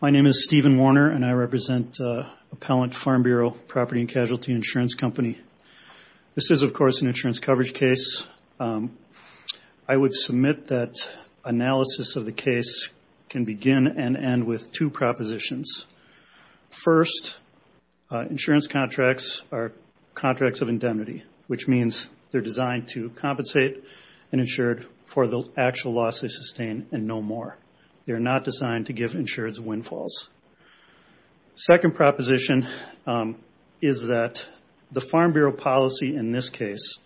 My name is Stephen Warner, and I represent Appellant Farm Bureau Property and Casualty Insurance Company. This is, of course, an insurance coverage case. I would submit that analysis of the case can begin and end with two propositions. First, insurance contracts are contracts of indemnity, which means they're designed to compensate an insured for the actual loss they sustain and no more. They're not designed to give insureds windfalls. Second proposition is that the Farm Bureau policy in this case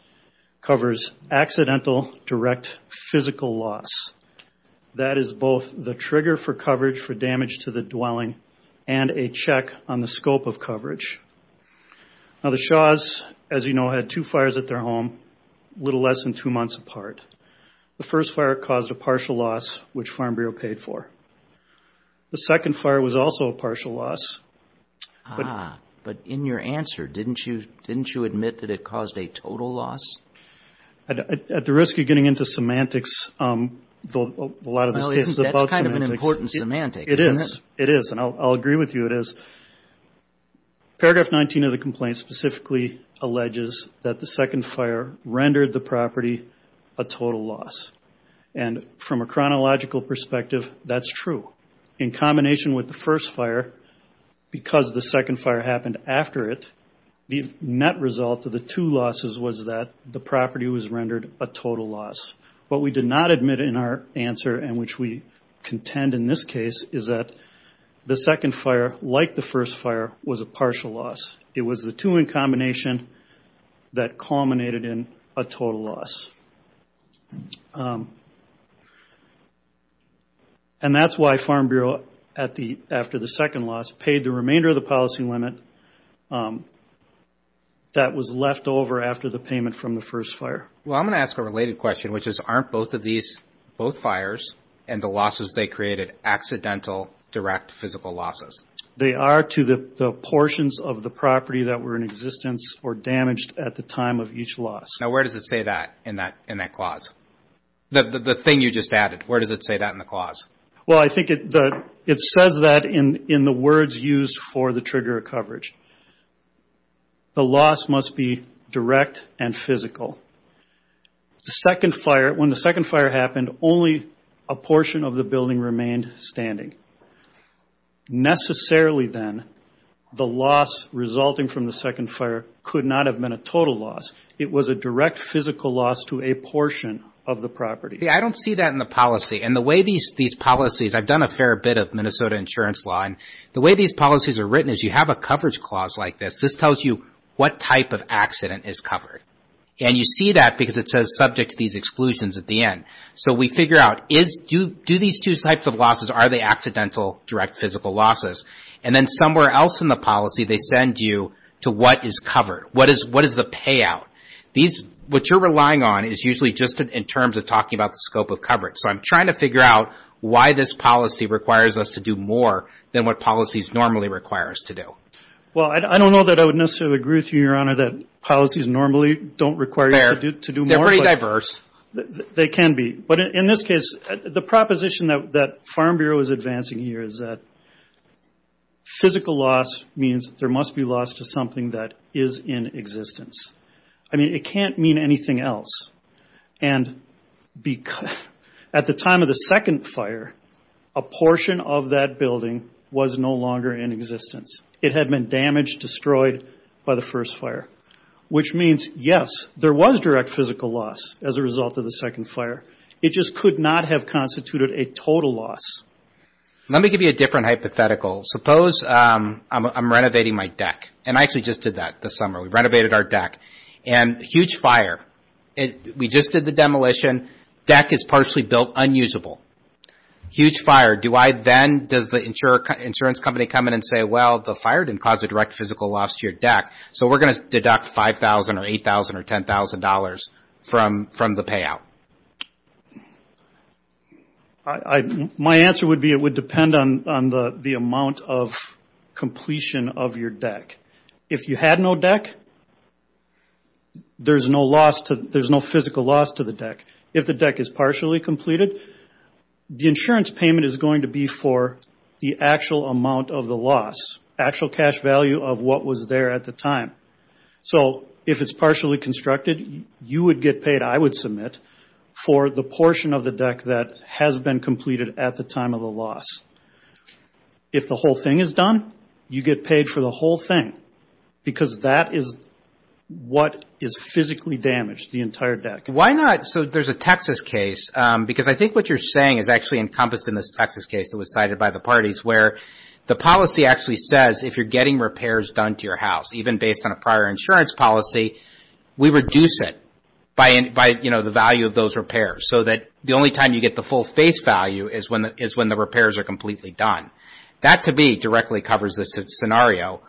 covers accidental direct physical loss. That is both the trigger for coverage for damage to the dwelling and a check on the scope of coverage. Now, the Shaws, as you know, had two fires at their home, a little less than two months apart. The first fire caused a partial loss, which Farm Bureau paid for. The second fire was also a partial loss. Ah, but in your answer, didn't you admit that it caused a total loss? At the risk of getting into semantics, a lot of this case is about semantics. Well, that's kind of an important semantic, isn't it? It is, and I'll agree with you, it is. Paragraph 19 of the complaint specifically alleges that the second fire rendered the property a total loss. And from a chronological perspective, that's true. In combination with the first fire, because the second fire happened after it, the net result of the two losses was that the property was rendered a total loss. What we did not admit in our answer, and which we contend in this case, is that the second fire, like the first fire, was a partial loss. It was the two in combination that culminated in a total loss. Um, and that's why Farm Bureau, after the second loss, paid the remainder of the policy limit that was left over after the payment from the first fire. Well, I'm going to ask a related question, which is, aren't both of these, both fires and the losses they created, accidental direct physical losses? They are to the portions of the property that were in existence or damaged at the time of each loss. Now, where does it say that in that clause? The thing you just added, where does it say that in the clause? Well, I think it says that in the words used for the trigger coverage. The loss must be direct and physical. The second fire, when the second fire happened, only a portion of the building remained standing. Necessarily, then, the loss resulting from the second fire could not have been a total loss. It was a direct physical loss to a portion of the property. I don't see that in the policy. And the way these policies, I've done a fair bit of Minnesota insurance law, and the way these policies are written is you have a coverage clause like this. This tells you what type of accident is covered. And you see that because it says subject to these exclusions at the end. So we figure out, do these two types of losses, are they accidental direct physical losses? And then somewhere else in the policy, they send you to what is covered. What is the payout? What you're relying on is usually just in terms of talking about the scope of coverage. So I'm trying to figure out why this policy requires us to do more than what policies normally require us to do. Well, I don't know that I would necessarily agree with you, Your Honor, that policies normally don't require you to do more. They're pretty diverse. They can be. But in this case, the proposition that Farm Bureau is advancing here is that physical loss means there must be loss to something that is in existence. I mean, it can't mean anything else. And at the time of the second fire, a portion of that building was no longer in existence. It had been damaged, destroyed by the first fire, which means, yes, there was direct physical loss as a result of the second fire. It just could not have constituted a total loss. Let me give you a different hypothetical. Suppose I'm renovating my deck, and I actually just did that this summer. We renovated our deck, and huge fire. We just did the demolition. Deck is partially built unusable. Huge fire. Does the insurance company come in and say, well, the fire didn't cause a direct physical loss to your deck, so we're going to deduct $5,000 or $8,000 or $10,000 from the payout? My answer would be it would depend on the amount of completion of your deck. If you had no deck, there's no physical loss to the deck. If the deck is partially completed, the insurance payment is going to be for the actual amount of the loss, actual cash value of what was there at the time. So if it's partially constructed, you would get paid, I would submit, for the portion of the deck that has been completed at the time of the loss. If the whole thing is done, you get paid for the whole thing, because that is what is physically damaged, the entire deck. Why not? So there's a Texas case, because I think what you're saying is actually encompassed in this Texas case that was cited by the parties, where the policy actually says if you're getting repairs done to your house, even based on a prior insurance policy, we reduce it by the value of those repairs, so that the only time you get the full face value is when the repairs are completely done. That, to me, directly covers this scenario.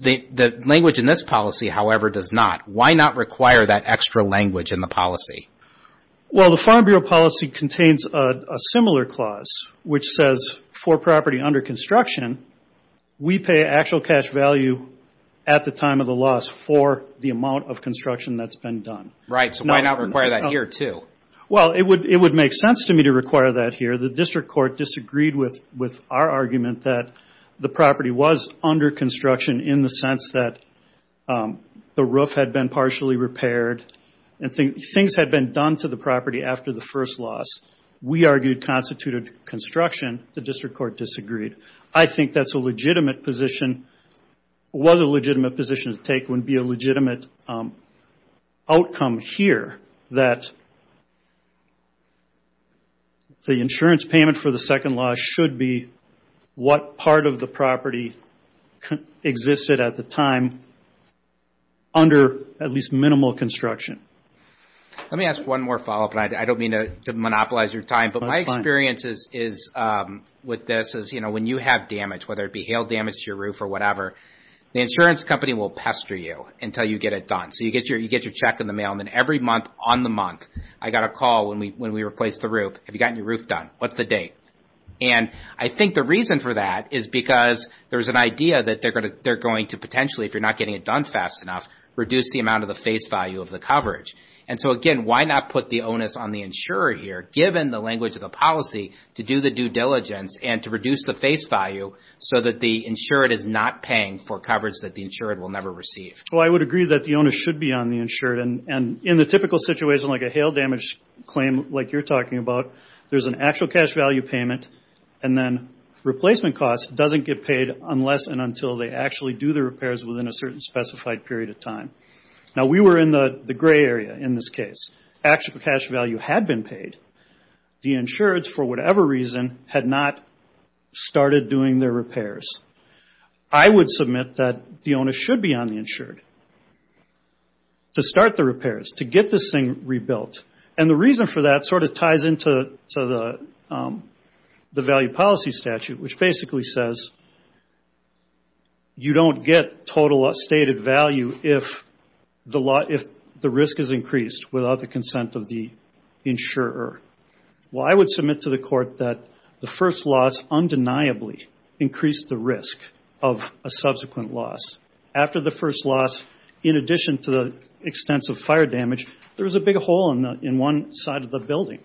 The language in this policy, however, does not. Why not require that extra language in the policy? Well, the Farm Bureau policy contains a similar clause, which says for property under construction, we pay actual cash value at the time of the loss for the amount of construction that's been done. Right, so why not require that here, too? Well, it would make sense to me to require that here. The district court disagreed with our argument that the property was under construction in the sense that the roof had been partially repaired and things had been done to the property after the first loss. We argued constituted construction. The district court disagreed. I think that's a legitimate position. What a legitimate position to take would be a legitimate outcome here, that the insurance payment for the second loss should be what part of the property existed at the time under at least minimal construction. Let me ask one more follow-up, and I don't mean to monopolize your time. That's fine. My experience with this is when you have damage, whether it be hail damage to your roof or whatever, the insurance company will pester you until you get it done. So you get your check in the mail, and then every month on the month, I got a call when we replaced the roof. Have you gotten your roof done? What's the date? And I think the reason for that is because there's an idea that they're going to potentially, if you're not getting it done fast enough, reduce the amount of the face value of the coverage. And so, again, why not put the onus on the insurer here, given the language of the policy, to do the due diligence and to reduce the face value so that the insured is not paying for coverage that the insured will never receive? Well, I would agree that the onus should be on the insured. And in the typical situation, like a hail damage claim like you're talking about, there's an actual cash value payment, and then replacement costs doesn't get paid unless and until they actually do the repairs within a certain specified period of time. Now, we were in the gray area in this case. Actual cash value had been paid. The insured, for whatever reason, had not started doing their repairs. I would submit that the onus should be on the insured to start the repairs, to get this thing rebuilt. And the reason for that sort of ties into the value policy statute, which basically says, you don't get total stated value if the risk is increased without the consent of the insurer. Well, I would submit to the court that the first loss undeniably increased the risk of a subsequent loss. After the first loss, in addition to the extensive fire damage, there was a big hole in one side of the building.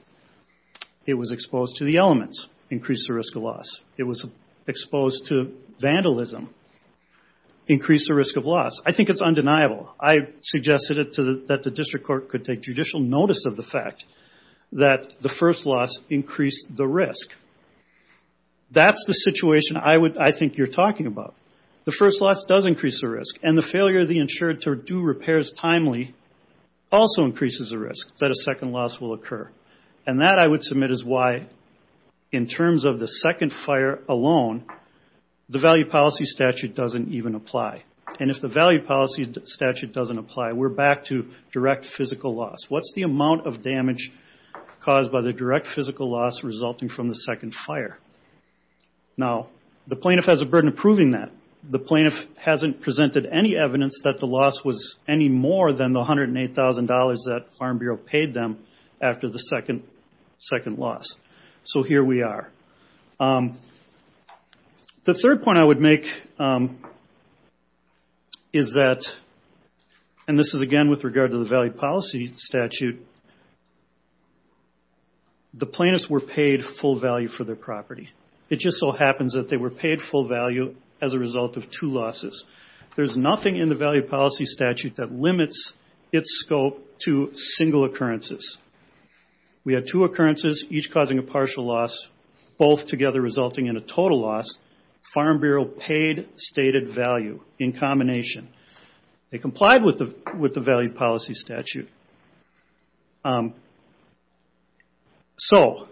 It was exposed to the elements, increased the risk of loss. It was exposed to vandalism, increased the risk of loss. I think it's undeniable. I suggested that the district court could take judicial notice of the fact that the first loss increased the risk. That's the situation I think you're talking about. The first loss does increase the risk, and the failure of the insured to do repairs timely also increases the risk that a second loss will occur. And that, I would submit, is why, in terms of the second fire alone, the value policy statute doesn't even apply. And if the value policy statute doesn't apply, we're back to direct physical loss. What's the amount of damage caused by the direct physical loss resulting from the second fire? Now, the plaintiff has a burden of proving that. The plaintiff hasn't presented any evidence that the loss was any more than the $108,000 that Farm Bureau paid them after the second loss. So here we are. The third point I would make is that, and this is, again, with regard to the value policy statute, the plaintiffs were paid full value for their property. It just so happens that they were paid full value as a result of two losses. There's nothing in the value policy statute that limits its scope to single occurrences. We had two occurrences, each causing a partial loss, both together resulting in a total loss. Farm Bureau paid stated value in combination. They complied with the value policy statute. So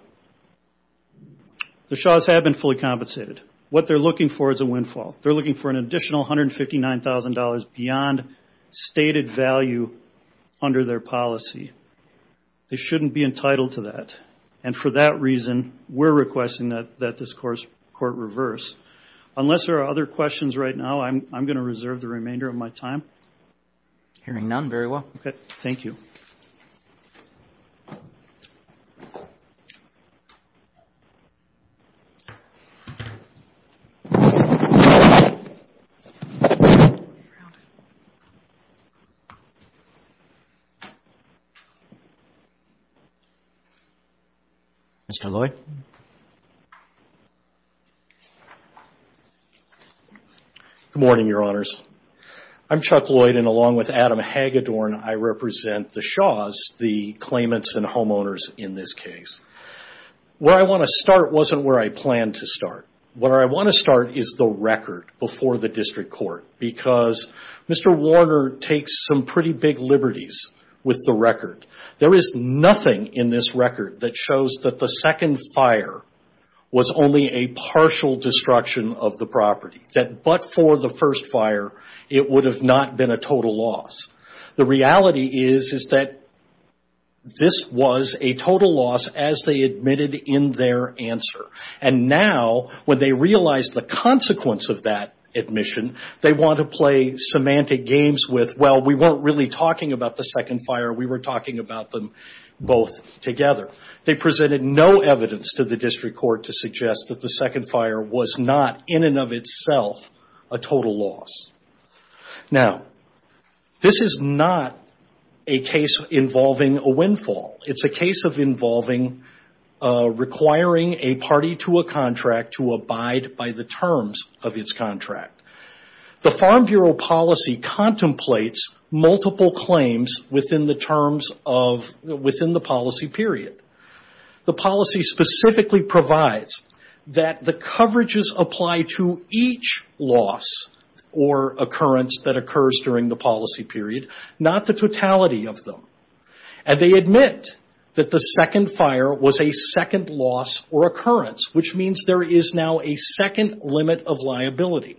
the Shaw's have been fully compensated. What they're looking for is a windfall. They're looking for an additional $159,000 beyond stated value under their policy. They shouldn't be entitled to that. And for that reason, we're requesting that this court reverse. Unless there are other questions right now, I'm going to reserve the remainder of my time. Hearing none, very well. Okay. Thank you. Mr. Lloyd. Good morning, Your Honors. I'm Chuck Lloyd, and along with Adam Hagedorn, I represent the Shaw's, the claimants and homeowners in this case. Where I want to start wasn't where I planned to start. Where I want to start is the record before the district court, because Mr. Warner takes some pretty big liberties with the record. There is nothing in this record that shows that the second fire was only a partial destruction of the property, that but for the first fire, it would have not been a total loss. The reality is, is that this was a total loss as they admitted in their answer. And now, when they realize the consequence of that admission, they want to play semantic games with, well, we weren't really talking about the second fire. We were talking about them both together. They presented no evidence to the district court to suggest that the second fire was not in and of itself a total loss. Now, this is not a case involving a windfall. It's a case of involving requiring a party to a contract to abide by the terms of its contract. The Farm Bureau policy contemplates multiple claims within the policy period. The policy specifically provides that the coverages apply to each loss or occurrence that occurs during the policy period, not the totality of them. And they admit that the second fire was a second loss or occurrence, which means there is now a second limit of liability.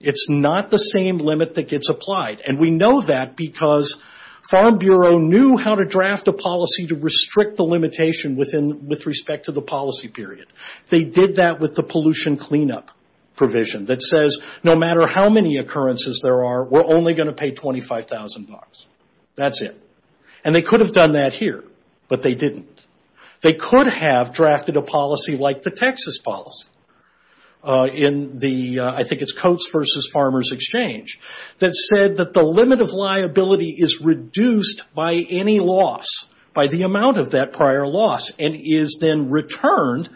It's not the same limit that gets applied. And we know that because Farm Bureau knew how to draft a policy to restrict the limitation with respect to the policy period. They did that with the pollution cleanup provision that says, no matter how many occurrences there are, we're only going to pay $25,000. That's it. And they could have done that here, but they didn't. They could have drafted a policy like the Texas policy in the, I think it's Coats versus Farmers Exchange, that said that the limit of liability is reduced by any loss, by the amount of that prior loss, and is then returned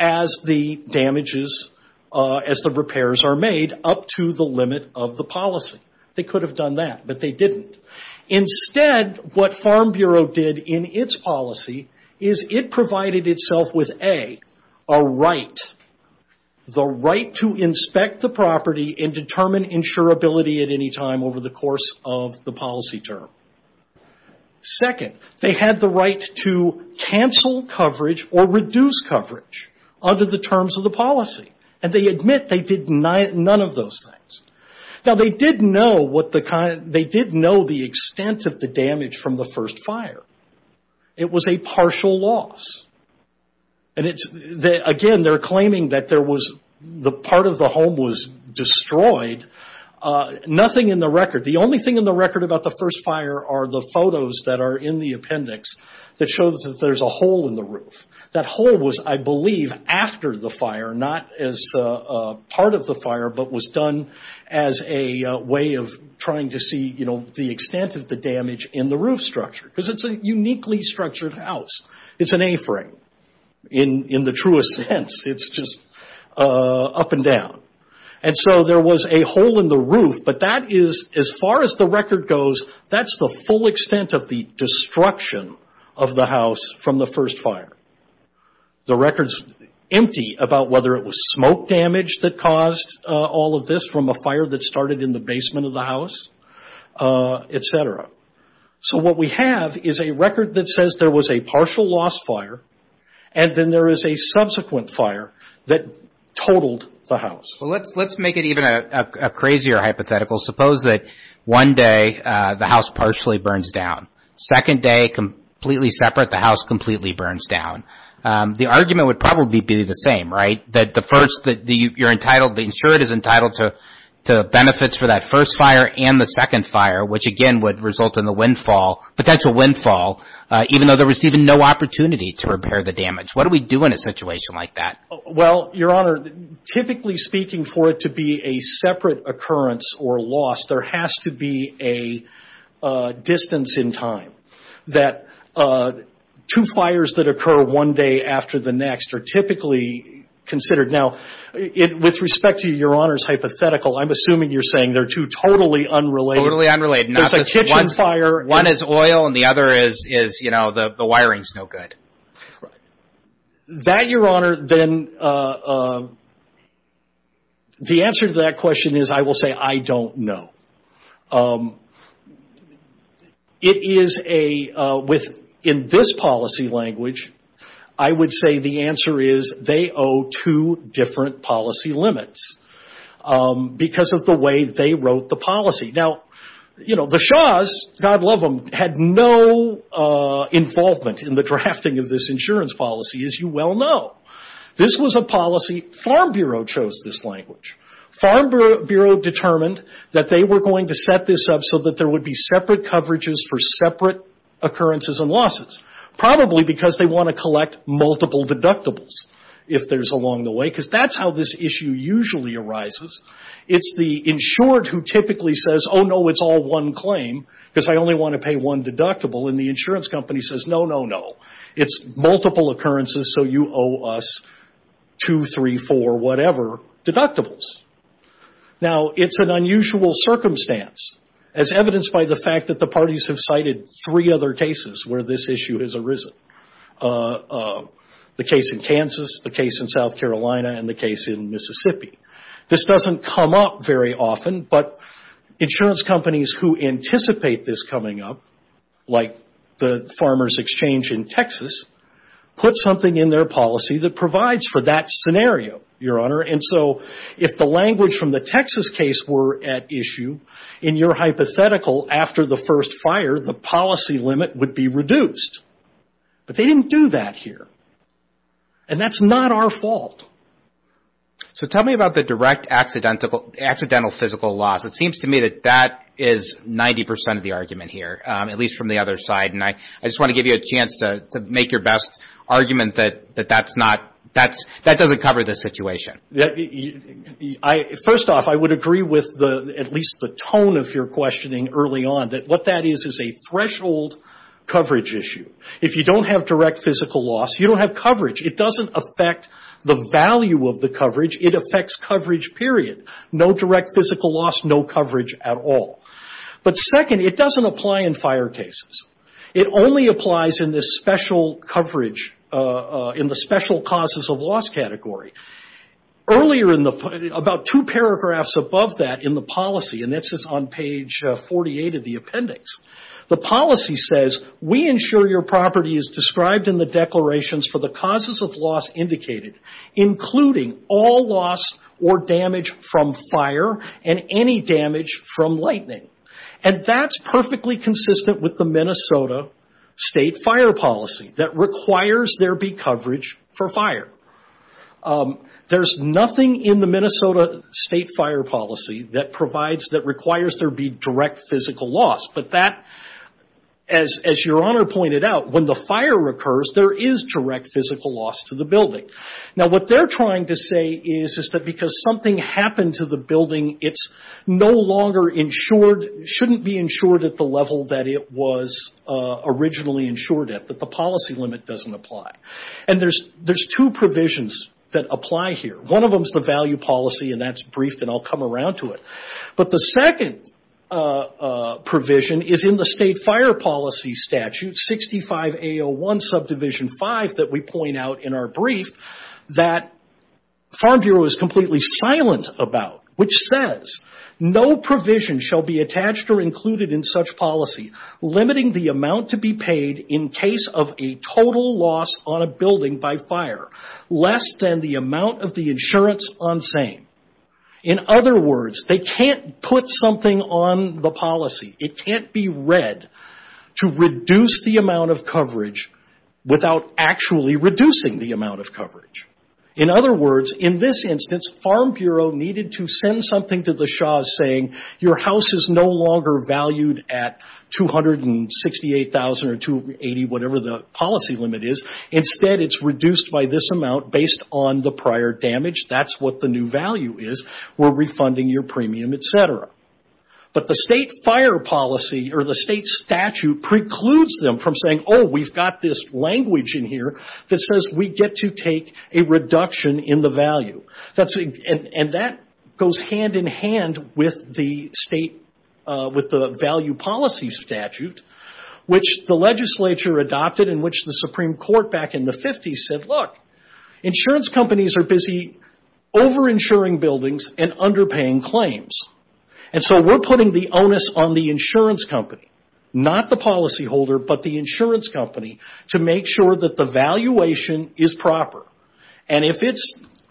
as the damages, as the repairs are made, up to the limit of the policy. They could have done that, but they didn't. Instead, what Farm Bureau did in its policy is it provided itself with, A, a right, the right to inspect the property and determine insurability at any time over the course of the policy term. Second, they had the right to cancel coverage or reduce coverage under the terms of the policy. And they admit they did none of those things. Now, they did know the extent of the damage from the first fire. It was a partial loss. Again, they're claiming that part of the home was destroyed. Nothing in the record. The only thing in the record about the first fire are the photos that are in the appendix that show that there's a hole in the roof. That hole was, I believe, after the fire, not as part of the fire, but was done as a way of trying to see the extent of the damage in the roof structure, because it's a uniquely structured house. It's an A-frame, in the truest sense. It's just up and down. And so there was a hole in the roof, but that is, as far as the record goes, that's the full extent of the destruction of the house from the first fire. The record's empty about whether it was smoke damage that caused all of this from a fire that started in the basement of the house, et cetera. So what we have is a record that says there was a partial loss fire, and then there is a subsequent fire that totaled the house. Well, let's make it even a crazier hypothetical. Suppose that one day the house partially burns down. Second day, completely separate, the house completely burns down. The argument would probably be the same, right? That the first, you're entitled, the insured is entitled to benefits for that first fire and the second fire, which, again, would result in the windfall, potential windfall, even though they're receiving no opportunity to repair the damage. What do we do in a situation like that? Well, Your Honor, typically speaking for it to be a separate occurrence or loss, there has to be a distance in time that two fires that occur one day after the next are typically considered. Now, with respect to Your Honor's hypothetical, I'm assuming you're saying they're two totally unrelated. Totally unrelated. There's a kitchen fire. One is oil and the other is, you know, the wiring's no good. Right. That, Your Honor, then the answer to that question is I will say I don't know. It is a, in this policy language, I would say the answer is they owe two different policy limits because of the way they wrote the policy. Now, you know, the Shahs, God love them, had no involvement in the drafting of this insurance policy, as you well know. This was a policy, Farm Bureau chose this language. Farm Bureau determined that they were going to set this up so that there would be separate coverages for separate occurrences and losses, probably because they want to collect multiple deductibles if there's along the way, because that's how this issue usually arises. It's the insured who typically says, oh, no, it's all one claim, because I only want to pay one deductible. And the insurance company says, no, no, no. It's multiple occurrences, so you owe us two, three, four, whatever deductibles. Now, it's an unusual circumstance, as evidenced by the fact that the parties have cited three other cases where this issue has arisen, the case in Kansas, the case in South Carolina, and the case in Mississippi. This doesn't come up very often, but insurance companies who anticipate this coming up, like the Farmers Exchange in Texas, put something in their policy that provides for that scenario, Your Honor. And so if the language from the Texas case were at issue, in your hypothetical, after the first fire, the policy limit would be reduced. But they didn't do that here. And that's not our fault. So tell me about the direct accidental physical loss. It seems to me that that is 90% of the argument here, at least from the other side. And I just want to give you a chance to make your best argument that that doesn't cover the situation. First off, I would agree with at least the tone of your questioning early on, that what that is is a threshold coverage issue. If you don't have direct physical loss, you don't have coverage. It doesn't affect the value of the coverage. It affects coverage, period. No direct physical loss, no coverage at all. But second, it doesn't apply in fire cases. It only applies in the special causes of loss category. Earlier, about two paragraphs above that in the policy, and this is on page 48 of the appendix, the policy says, we ensure your property is described in the declarations for the causes of loss indicated, including all loss or damage from fire and any damage from lightning. And that's perfectly consistent with the Minnesota state fire policy, that requires there be coverage for fire. There's nothing in the Minnesota state fire policy that requires there be direct physical loss. But that, as your Honor pointed out, when the fire occurs, there is direct physical loss to the building. Now, what they're trying to say is that because something happened to the building, it's no longer insured, shouldn't be insured at the level that it was originally insured at, that the policy limit doesn't apply. And there's two provisions that apply here. One of them is the value policy, and that's briefed, and I'll come around to it. But the second provision is in the state fire policy statute, 65A01 subdivision 5, that we point out in our brief, that Farm Bureau is completely silent about, which says, no provision shall be attached or included in such policy, limiting the amount to be paid in case of a total loss on a building by fire, less than the amount of the insurance on same. In other words, they can't put something on the policy. It can't be read to reduce the amount of coverage without actually reducing the amount of coverage. In other words, in this instance, Farm Bureau needed to send something to the SHAS saying, your house is no longer valued at $268,000 or $280,000, whatever the policy limit is. Instead, it's reduced by this amount based on the prior damage. That's what the new value is. We're refunding your premium, et cetera. But the state fire policy or the state statute precludes them from saying, oh, we've got this language in here that says we get to take a reduction in the value. And that goes hand in hand with the value policy statute, which the legislature adopted and which the Supreme Court back in the 50s said, look, insurance companies are busy over-insuring buildings and underpaying claims. And so we're putting the onus on the insurance company, not the policyholder, but the insurance company to make sure that the valuation is proper.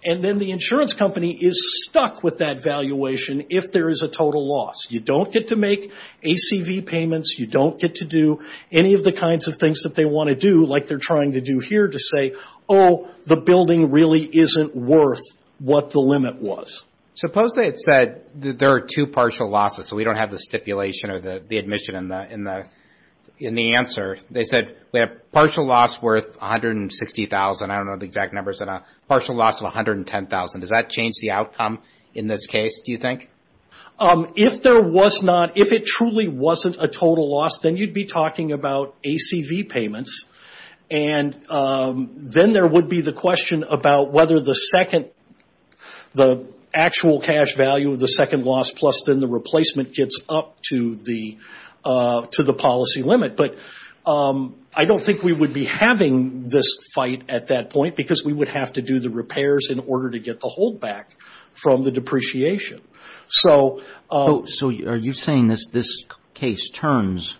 And then the insurance company is stuck with that valuation if there is a total loss. You don't get to make ACV payments. You don't get to do any of the kinds of things that they want to do, like they're trying to do here to say, oh, the building really isn't worth what the limit was. Suppose they had said there are two partial losses, so we don't have the stipulation or the admission in the answer. They said we have a partial loss worth $160,000. I don't know the exact numbers, but a partial loss of $110,000. Does that change the outcome in this case, do you think? If there was not, if it truly wasn't a total loss, then you'd be talking about ACV payments. And then there would be the question about whether the second, the actual cash value of the second loss plus then the replacement gets up to the policy limit. But I don't think we would be having this fight at that point because we would have to do the repairs in order to get the hold back from the depreciation. So are you saying this case turns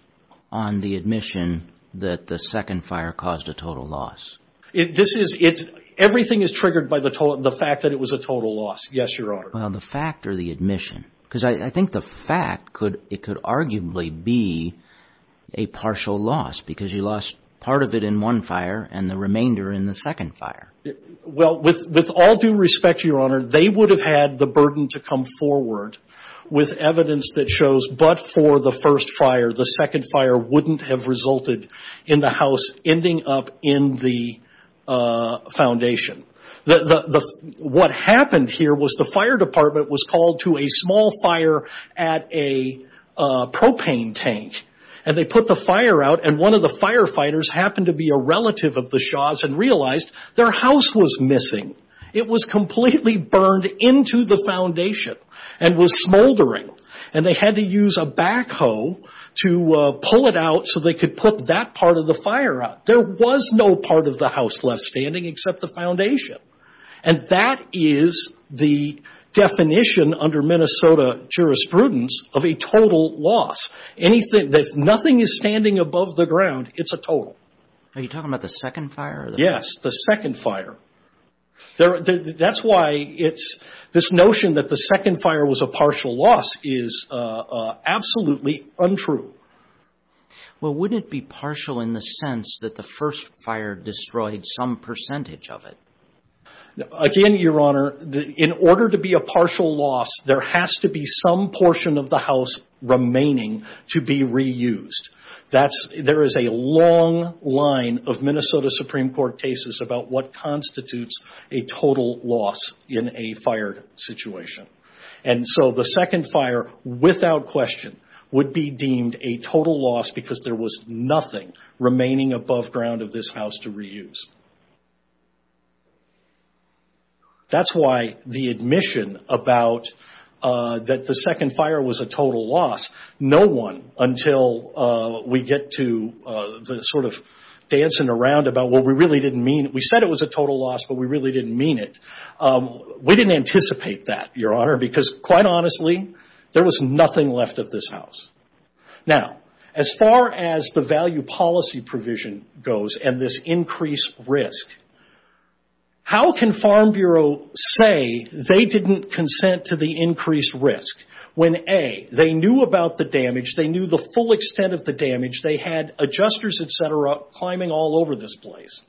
on the admission that the second fire caused a total loss? Everything is triggered by the fact that it was a total loss, yes, Your Honor. Well, the fact or the admission? Because I think the fact, it could arguably be a partial loss because you lost part of it in one fire and the remainder in the second fire. Well, with all due respect, Your Honor, they would have had the burden to come forward with evidence that shows but for the first fire, the second fire wouldn't have resulted in the house ending up in the foundation. What happened here was the fire department was called to a small fire at a propane tank. And they put the fire out, and one of the firefighters happened to be a relative of the Shahs and realized their house was missing. It was completely burned into the foundation and was smoldering. And they had to use a backhoe to pull it out so they could put that part of the fire out. There was no part of the house left standing except the foundation. And that is the definition under Minnesota jurisprudence of a total loss. If nothing is standing above the ground, it's a total. Are you talking about the second fire? Yes, the second fire. That's why this notion that the second fire was a partial loss is absolutely untrue. Well, wouldn't it be partial in the sense that the first fire destroyed some percentage of it? Again, Your Honor, in order to be a partial loss, there has to be some portion of the house remaining to be reused. There is a long line of Minnesota Supreme Court cases about what constitutes a total loss in a fire situation. And so the second fire, without question, would be deemed a total loss because there was nothing remaining above ground of this house to reuse. That's why the admission that the second fire was a total loss, no one until we get to the sort of dancing around about what we really didn't mean. We said it was a total loss, but we really didn't mean it. We didn't anticipate that, Your Honor, because quite honestly, there was nothing left of this house. Now, as far as the value policy provision goes and this increased risk, how can Farm Bureau say they didn't consent to the increased risk when A, they knew about the damage, they knew the full extent of the damage, they had adjusters, et cetera, climbing all over this place.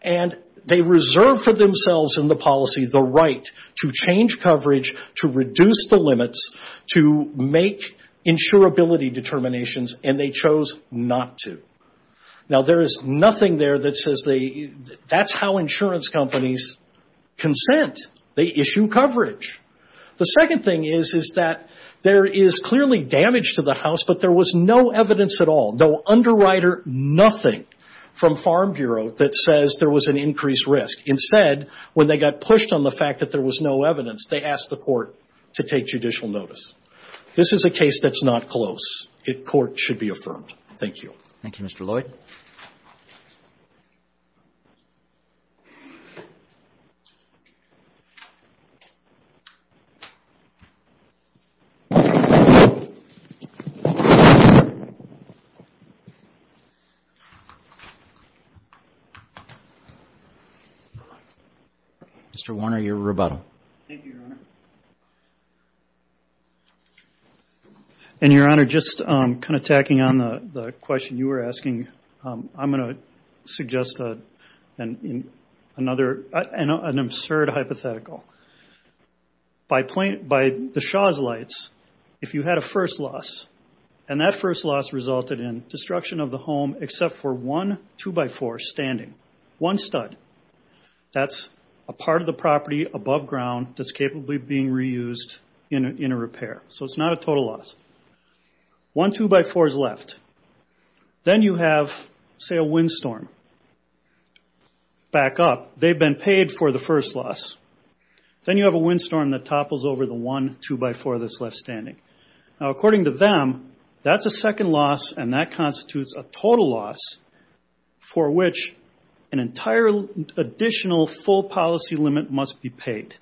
And they reserved for themselves in the policy the right to change coverage, to reduce the limits, to make insurability determinations, and they chose not to. Now, there is nothing there that says that's how insurance companies consent. They issue coverage. The second thing is that there is clearly damage to the house, but there was no evidence at all, no underwriter, nothing from Farm Bureau that says there was an increased risk. Instead, when they got pushed on the fact that there was no evidence, they asked the court to take judicial notice. This is a case that's not close. The court should be affirmed. Thank you. Thank you, Mr. Lloyd. Mr. Warner, your rebuttal. And, Your Honor, just kind of tacking on the question you were asking, I'm going to suggest an absurd hypothetical. By the Shaw's Lights, if you had a first loss, and that first loss resulted in destruction of the home except for one 2x4 standing, one stud, that's a part of the property above ground that's capably being reused in a repair. So it's not a total loss. One 2x4 is left. Then you have, say, a windstorm back up. They've been paid for the first loss. Then you have a windstorm that topples over the one 2x4 that's left standing. Now, according to them, that's a second loss, and that constitutes a total loss for which an entire additional full policy limit must be paid.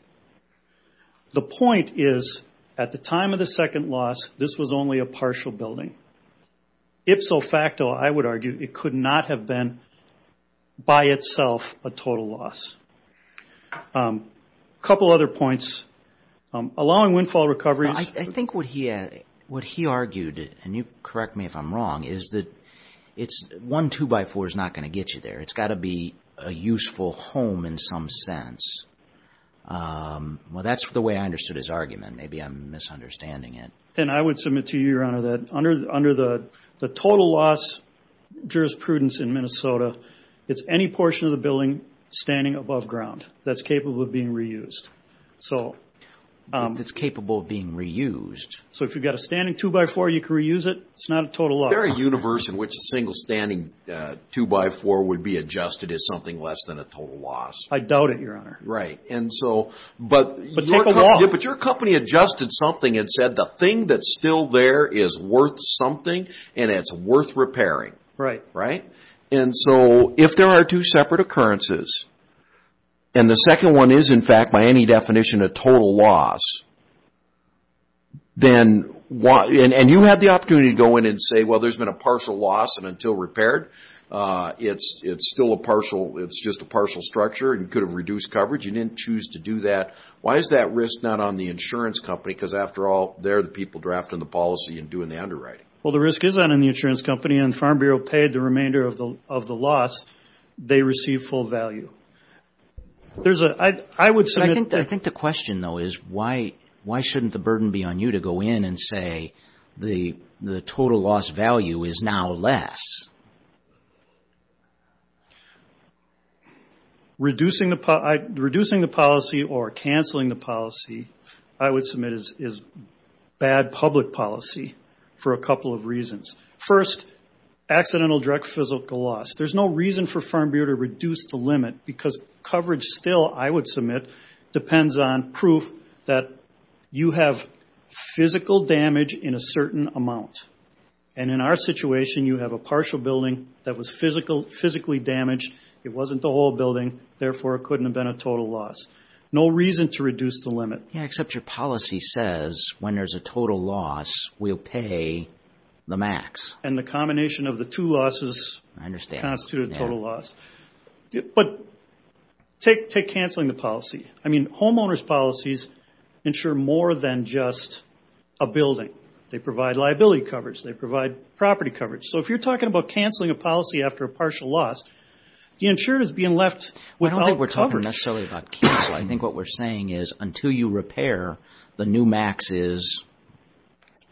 The point is, at the time of the second loss, this was only a partial building. Ipso facto, I would argue, it could not have been by itself a total loss. A couple other points. Allowing windfall recoveries. I think what he argued, and you correct me if I'm wrong, is that one 2x4 is not going to get you there. It's got to be a useful home in some sense. Well, that's the way I understood his argument. Maybe I'm misunderstanding it. I would submit to you, Your Honor, that under the total loss jurisprudence in Minnesota, it's any portion of the building standing above ground that's capable of being reused. If it's capable of being reused. So if you've got a standing 2x4, you can reuse it. It's not a total loss. Is there a universe in which a single standing 2x4 would be adjusted as something less than a total loss? I doubt it, Your Honor. Right. But your company adjusted something and said the thing that's still there is worth something, and it's worth repairing. Right. And so if there are two separate occurrences, and the second one is, in fact, by any definition, a total loss, then you have the opportunity to go in and say, well, there's been a partial loss, and until repaired, it's still a partial structure and could have reduced coverage. You didn't choose to do that. Why is that risk not on the insurance company? Because after all, they're the people drafting the policy and doing the underwriting. Well, the risk is on the insurance company, and the Farm Bureau paid the remainder of the loss. They receive full value. I would submit that. I think the question, though, is why shouldn't the burden be on you to go in and say the total loss value is now less? Reducing the policy or canceling the policy, I would submit, is bad public policy for a couple of reasons. First, accidental direct physical loss. There's no reason for Farm Bureau to reduce the limit because coverage still, I would submit, depends on proof that you have physical damage in a certain amount. And in our situation, you have a partial building that was physically damaged. It wasn't the whole building. Therefore, it couldn't have been a total loss. No reason to reduce the limit. Yeah, except your policy says when there's a total loss, we'll pay the max. And the combination of the two losses constitute a total loss. But take canceling the policy. I mean, homeowners' policies ensure more than just a building. They provide liability coverage. They provide property coverage. So if you're talking about canceling a policy after a partial loss, the insurer is being left without coverage. I don't think we're talking necessarily about cancel. I think what we're saying is until you repair, the new max is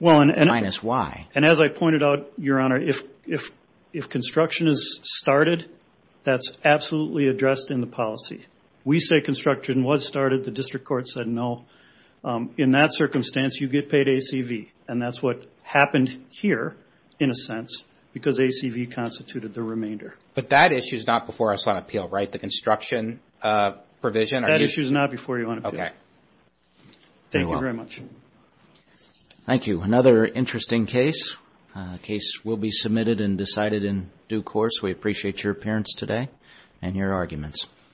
minus Y. And as I pointed out, Your Honor, if construction is started, that's absolutely addressed in the policy. We say construction was started. The district court said no. In that circumstance, you get paid ACV. And that's what happened here, in a sense, because ACV constituted the remainder. But that issue is not before us on appeal, right? The construction provision? That issue is not before you on appeal. Okay. Thank you very much. Thank you. Another interesting case. A case will be submitted and decided in due course. We appreciate your appearance today and your arguments.